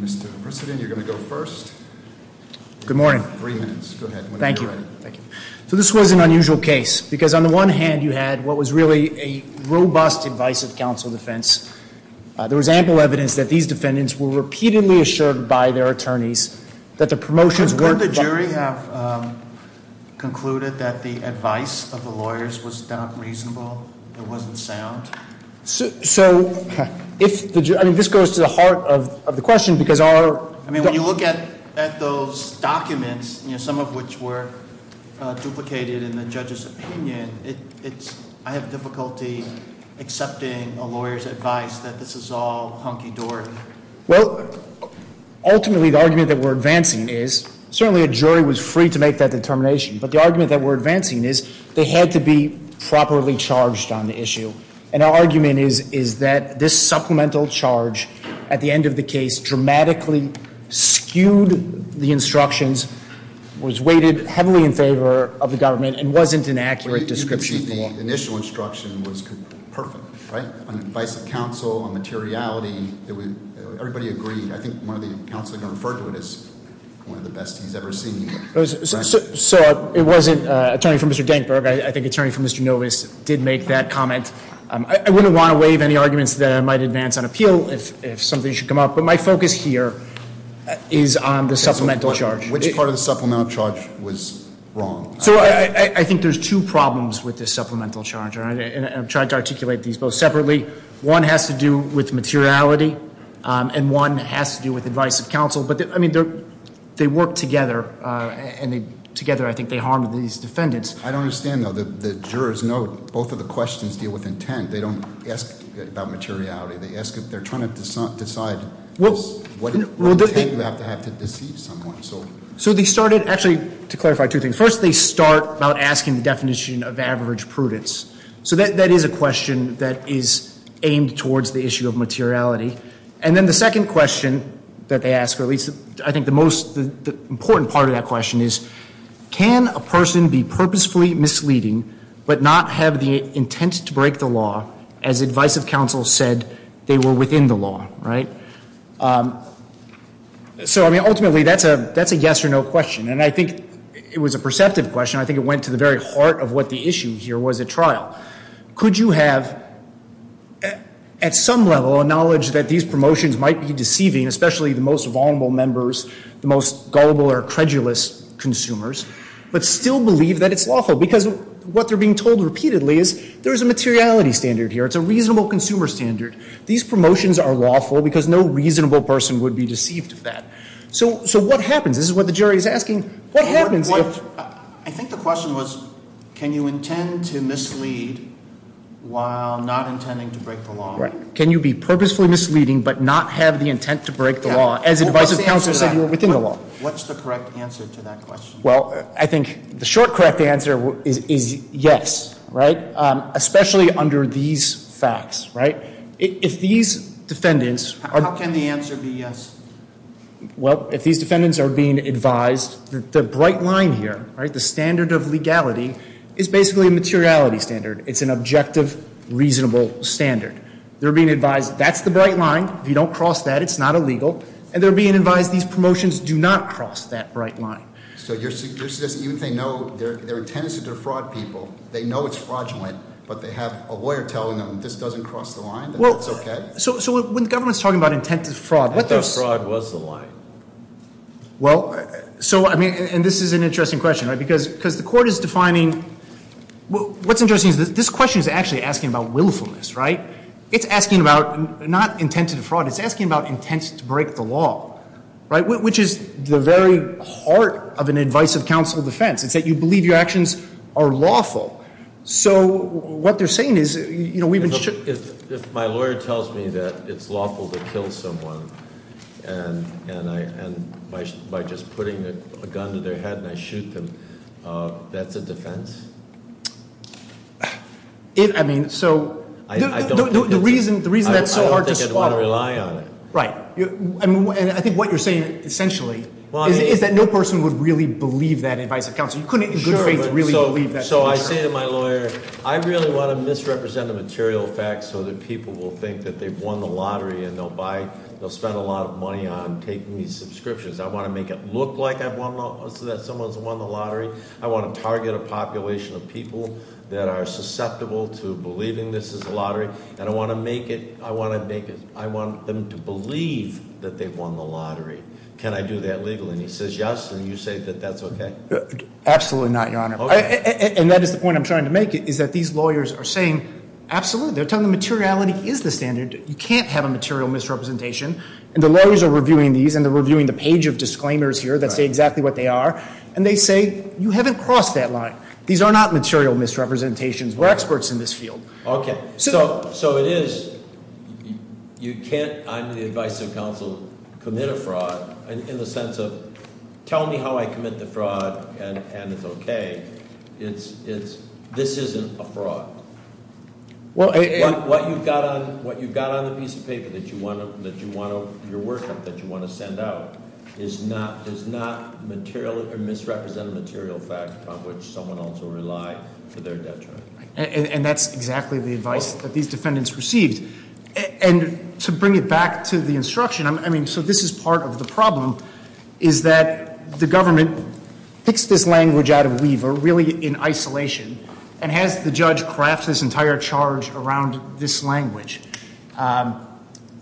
Mr. President, you're going to go first. Good morning. Three minutes. Go ahead. Thank you. Thank you. So this was an unusual case because on the one hand you had what was really a were repeatedly assured by their attorneys that the promotions weren't the jury have concluded that the advice of the lawyers was not reasonable. It wasn't sound. So if I mean this goes to the heart of the question because our I mean when you look at those documents, you know, some of which were duplicated in the judge's opinion. It's I have difficulty Accepting a lawyer's advice that this is all hunky-dory. Well, ultimately the argument that we're advancing is certainly a jury was free to make that determination. But the argument that we're advancing is they had to be properly charged on the issue. And our argument is is that this supplemental charge at the end of the case dramatically skewed. The instructions was weighted heavily in favor of the government and wasn't an accurate description. The initial instruction was perfect, right? Advice of counsel on materiality. It was everybody agreed. I think one of the counseling referred to it as one of the best he's ever seen. So it wasn't attorney from Mr. Denkberg. I think attorney from Mr. Novice did make that comment. I wouldn't want to waive any arguments that I might advance on appeal if something should come up, but my focus here is on the supplemental charge, which part of the supplemental charge was wrong. So I think there's two problems with this supplemental charge, and I'm trying to articulate these both separately. One has to do with materiality, and one has to do with advice of counsel. But I mean, they work together, and together I think they harmed these defendants. I don't understand, though. The jurors know both of the questions deal with intent. They don't ask about materiality. They're trying to decide what intent you have to deceive someone. So they started, actually, to clarify two things. First, they start about asking the definition of average prudence. So that is a question that is aimed towards the issue of materiality. And then the second question that they ask, or at least I think the most important part of that question is, can a person be purposefully misleading but not have the intent to break the law as advice of counsel said they were within the law, right? So I mean, ultimately, that's a yes or no question. And I think it was a perceptive question. I think it went to the very heart of what the issue here was at trial. Could you have, at some level, a knowledge that these promotions might be deceiving, especially the most vulnerable members, the most gullible or credulous consumers, but still believe that it's lawful? Because what they're being told repeatedly is there's a materiality standard here. It's a reasonable consumer standard. These promotions are lawful because no reasonable person would be deceived of that. So what happens? This is what the jury's asking. What happens if... I think the question was, can you intend to mislead while not intending to break the law? Right. Can you be purposefully misleading but not have the intent to break the law as advice of counsel said you were within the law? What's the correct answer to that question? Well, I think the short, correct answer is yes, right? Especially under these facts, right? If these defendants... How can the answer be yes? Well, if these defendants are being advised that the bright line here, right, the standard of legality is basically a materiality standard. It's an objective, reasonable standard. They're being advised that's the bright line. If you don't cross that, it's not illegal. And they're being advised these promotions do not cross that bright line. So your suggestion is even if they know, their intent is to defraud people, they know it's fraudulent, but they have a lawyer telling them this doesn't cross the line, that it's okay? So when the government's talking about intent to fraud... I thought fraud was the line. Well, so I mean, and this is an interesting question, right? Because the court is defining... What's interesting is this question is actually asking about willfulness, right? It's asking about not intent to defraud. It's asking about intent to break the law, right? Which is the very heart of an advice of counsel defense. It's that you believe your actions are lawful. So what they're saying is, you know, we've been... If my lawyer tells me that it's lawful to kill someone, and by just putting a gun to their head and I shoot them, that's a defense? I mean, so the reason that's so hard to spot... I don't think I'd want to rely on it. Right. And I think what you're saying, essentially, is that no person would really believe that advice of counsel. You couldn't in good faith really believe that. So I say to my lawyer, I really want to misrepresent the material facts so that people will think that they've won the lottery and they'll buy... They'll spend a lot of money on taking these subscriptions. I want to make it look like I've won... So that someone's won the lottery. I want to target a population of people that are susceptible to believing this is a lottery. And I want to make it... I want them to believe that they've won the lottery. Can I do that legally? And he says yes, and you say that that's okay? Absolutely not, Your Honor. And that is the point I'm trying to make, is that these lawyers are saying, absolutely. They're telling the materiality is the standard. You can't have a material misrepresentation. And the lawyers are reviewing these, and they're reviewing the page of disclaimers here that say exactly what they are. And they say, you haven't crossed that line. These are not material misrepresentations. We're experts in this field. Okay. So it is... You can't, under the advice of counsel, commit a fraud in the sense of, tell me how I commit the fraud, and it's okay. It's... This isn't a fraud. What you've got on the piece of paper that you want to... Your workup that you want to send out is not material or misrepresent a material fact on which someone else will rely for their debt. And that's exactly the advice that these defendants received. And to bring it back to the instruction, I mean, so this is part of the problem, is that the government picks this language out of weaver, really in isolation, and has the judge craft this entire charge around this language. And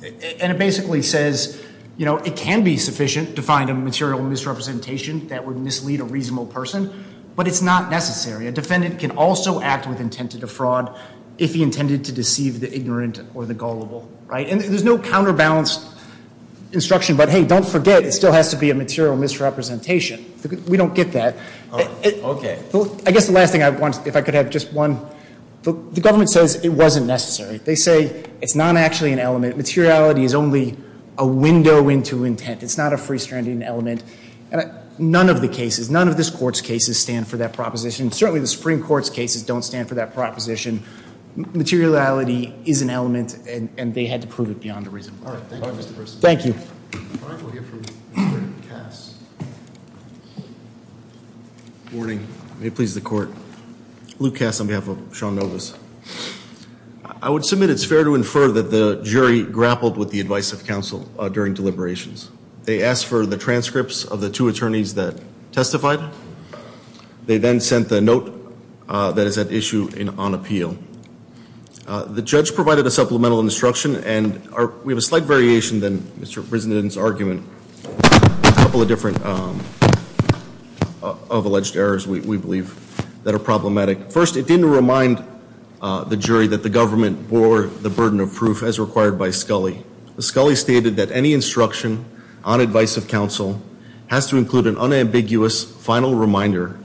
it basically says, you know, it can be sufficient to find a material misrepresentation that would mislead a reasonable person, but it's not necessary. A defendant can also act with intent to defraud if he intended to deceive the ignorant or the gullible, right? And there's no counterbalanced instruction about, hey, don't forget, it still has to be a material misrepresentation. We don't get that. Okay. I guess the last thing I want, if I could have just one... The government says it wasn't necessary. They say it's not actually an element. Materiality is only a window into intent. It's not a free-stranding element. None of the cases, none of this Court's cases stand for that proposition. Certainly the Supreme Court's cases don't stand for that proposition. Materiality is an element, and they had to prove it beyond a reasonable doubt. Thank you. Warning. May it please the Court. Luke Cass on behalf of Sean Novus. I would submit it's fair to infer that the jury grappled with the advice of counsel during deliberations. They asked for the transcripts of the two attorneys that testified. They then sent the issue on appeal. The judge provided a supplemental instruction, and we have a slight variation than Mr. Prisden's argument. A couple of different alleged errors, we believe, that are problematic. First, it didn't remind the jury that the government bore the burden of proof as required by Scully. Scully stated that any instruction on advice of counsel has to include an unambiguous final reminder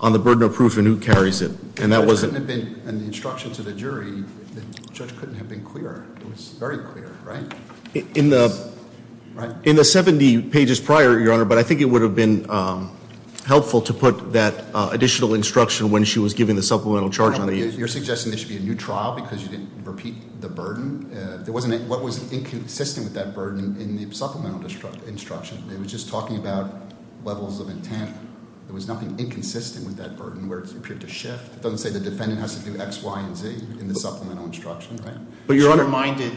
on the burden of proof and who carries it, and that wasn't... And the instruction to the jury, the judge couldn't have been clearer. It was very clear, right? In the 70 pages prior, Your Honor, but I think it would have been helpful to put that additional instruction when she was given the supplemental charge on the... You're suggesting there should be a new trial because you didn't repeat the burden? There wasn't a... What was inconsistent with that burden in the supplemental instruction? It was just talking about levels of intent. There was nothing inconsistent with that burden where it appeared to shift. It doesn't say the defendant has to do X, Y, and Z in the supplemental instruction, right? But Your Honor...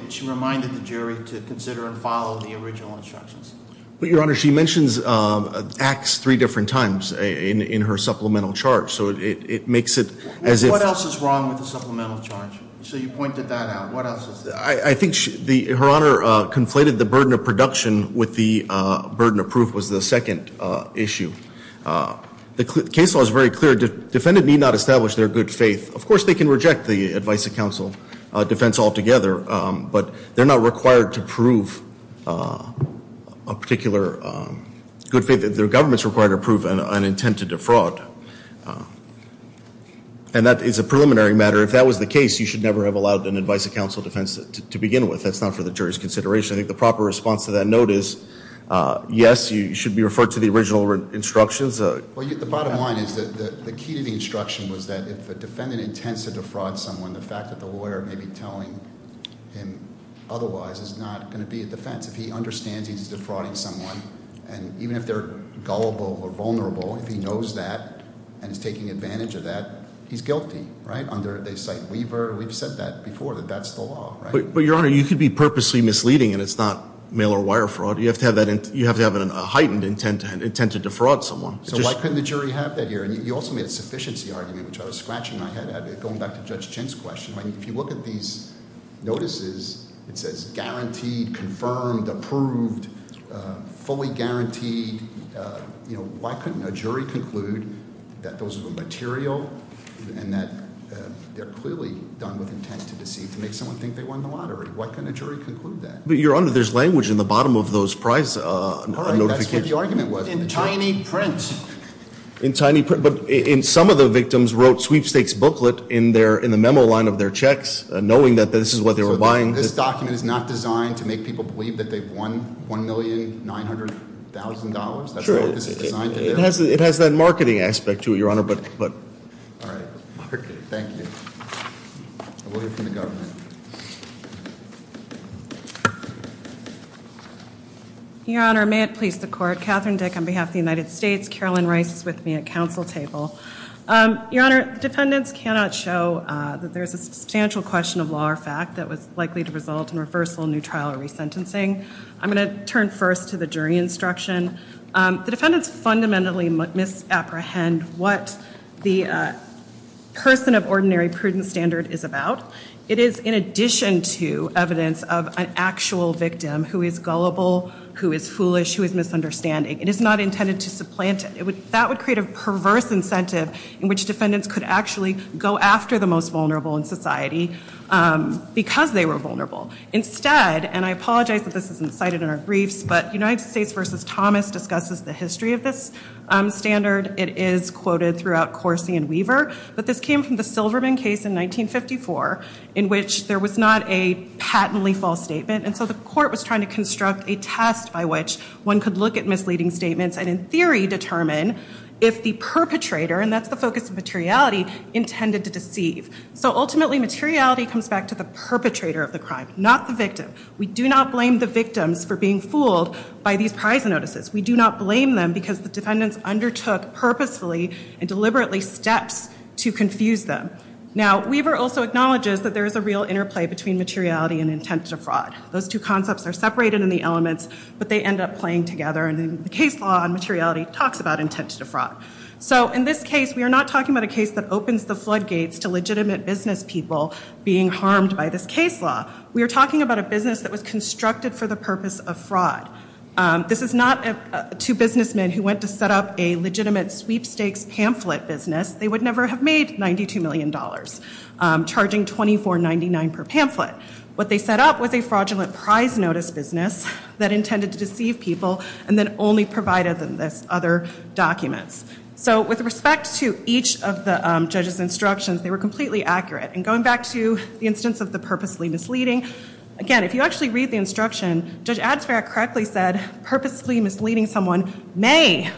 She reminded the jury to consider and follow the original instructions. But Your Honor, she mentions X three different times in her supplemental charge, so it makes it as if... What else is wrong with the supplemental charge? So you pointed that out. What else is... I think Her Honor conflated the burden of production with the burden of proof was the second issue. The case law is very clear. Defendant need not establish their good faith. Of course, they can reject the advice of counsel defense altogether, but they're not required to prove a particular good faith. Their government's required to prove an intent to defraud, and that is a preliminary matter. If that was the case, you should never have allowed an advice of counsel defense to begin with. That's not for the jury's consideration. I think the proper response to that note is, yes, you should be referred to the original instructions. Well, the bottom line is that the key to the instruction was that if a defendant intends to defraud someone, the fact that the lawyer may be telling him otherwise is not going to be a defense. If he understands he's defrauding someone, and even if they're gullible or vulnerable, if he knows that and is taking advantage of that, he's guilty, right? They cite Weaver. We've said that before, that that's the law, right? But, Your Honor, you could be purposely misleading, and it's not mail-or-wire fraud. You have to have a heightened intent to defraud someone. So why couldn't the jury have that here? And you also made a sufficiency argument, which I was scratching my head at, going back to Judge Chin's question. If you look at these notices, it says guaranteed, confirmed, approved, fully guaranteed. Why couldn't a jury conclude that those are the material, and that they're clearly done with intent to deceive, to make someone think they won the lottery? Why couldn't a jury conclude that? But, Your Honor, there's language in the bottom of those prize notifications. All right, that's what the argument was. In tiny print. In tiny print, but some of the victims wrote sweepstakes booklet in the memo line of their checks, knowing that this is what they were buying. This document is not designed to make people believe that they've won $1,900,000. That's not what this is designed to do. It has that marketing aspect to it, Your Honor, but. All right, thank you. We'll hear from the government. Your Honor, may it please the court. Catherine Dick on behalf of the United States. Carolyn Rice is with me at council table. Your Honor, defendants cannot show that there's a substantial question of law or fact that was likely to result in reversal, new trial, or resentencing. I'm going to turn first to the jury instruction. The defendants fundamentally misapprehend what the person of ordinary prudent standard is about. It is in addition to evidence of an actual victim who is gullible, who is foolish, who is misunderstanding. It is not intended to supplant it. That would create a perverse incentive in which defendants could actually go after the most vulnerable in society because they were vulnerable. Instead, and I apologize that this isn't cited in our briefs, but United States versus Thomas discusses the history of this standard. It is quoted throughout Corsi and Weaver. But this came from the Silverman case in 1954 in which there was not a patently false statement. And so the court was trying to construct a test by which one could look at misleading statements and in theory determine if the perpetrator, and that's the focus of materiality, intended to deceive. So ultimately, materiality comes back to the perpetrator of the crime, not the victim. We do not blame the victims for being fooled by these prize notices. We do not blame them because the defendants undertook purposefully and deliberately steps to confuse them. Now, Weaver also acknowledges that there is a real interplay between materiality and intent to fraud. Those two concepts are separated in the elements, but they end up playing together. And the case law on materiality talks about intent to fraud. So in this case, we are not talking about a case that opens the floodgates to legitimate business people being harmed by this case law. We are talking about a business that was constructed for the purpose of fraud. This is not two businessmen who went to set up a legitimate sweepstakes pamphlet business. They would never have made $92 million, charging $24.99 per pamphlet. What they set up was a fraudulent prize notice business that intended to deceive people and then only provided them with other documents. So with respect to each of the judge's instructions, they were completely accurate. And going back to the instance of the purposely misleading, again, if you actually read the instruction, Judge Atzfair correctly said purposely misleading someone may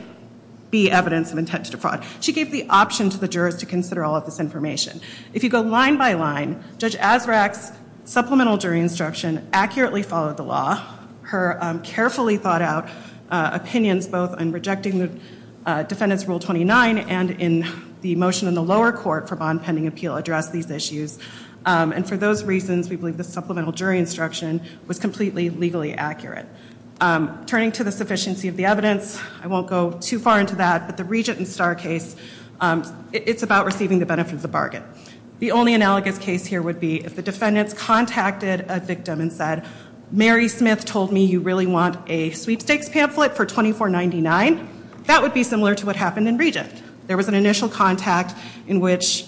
be evidence of intent to fraud. She gave the option to the jurors to consider all of this information. If you go line by line, Judge Azraq's supplemental jury instruction accurately followed the law. Her carefully thought out opinions both on rejecting the defendant's Rule 29 and in the motion in the lower court for bond pending appeal addressed these issues. And for those reasons, we believe the supplemental jury instruction was completely legally accurate. Turning to the sufficiency of the evidence, I won't go too far into that, but the Regent and Starr case, it's about receiving the benefit of the bargain. The only analogous case here would be if the defendants contacted a victim and said, Mary Smith told me you really want a sweepstakes pamphlet for $24.99. That would be similar to what happened in Regent. There was an initial contact in which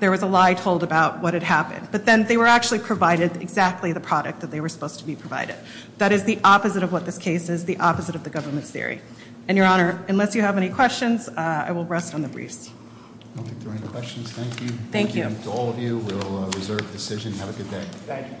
there was a lie told about what had happened. But then they were actually provided exactly the product that they were supposed to be provided. That is the opposite of what this case is, the opposite of the government's theory. And your honor, unless you have any questions, I will rest on the briefs. I don't think there are any questions, thank you. Thank you. To all of you, we'll reserve the decision. Have a good day. Thank you.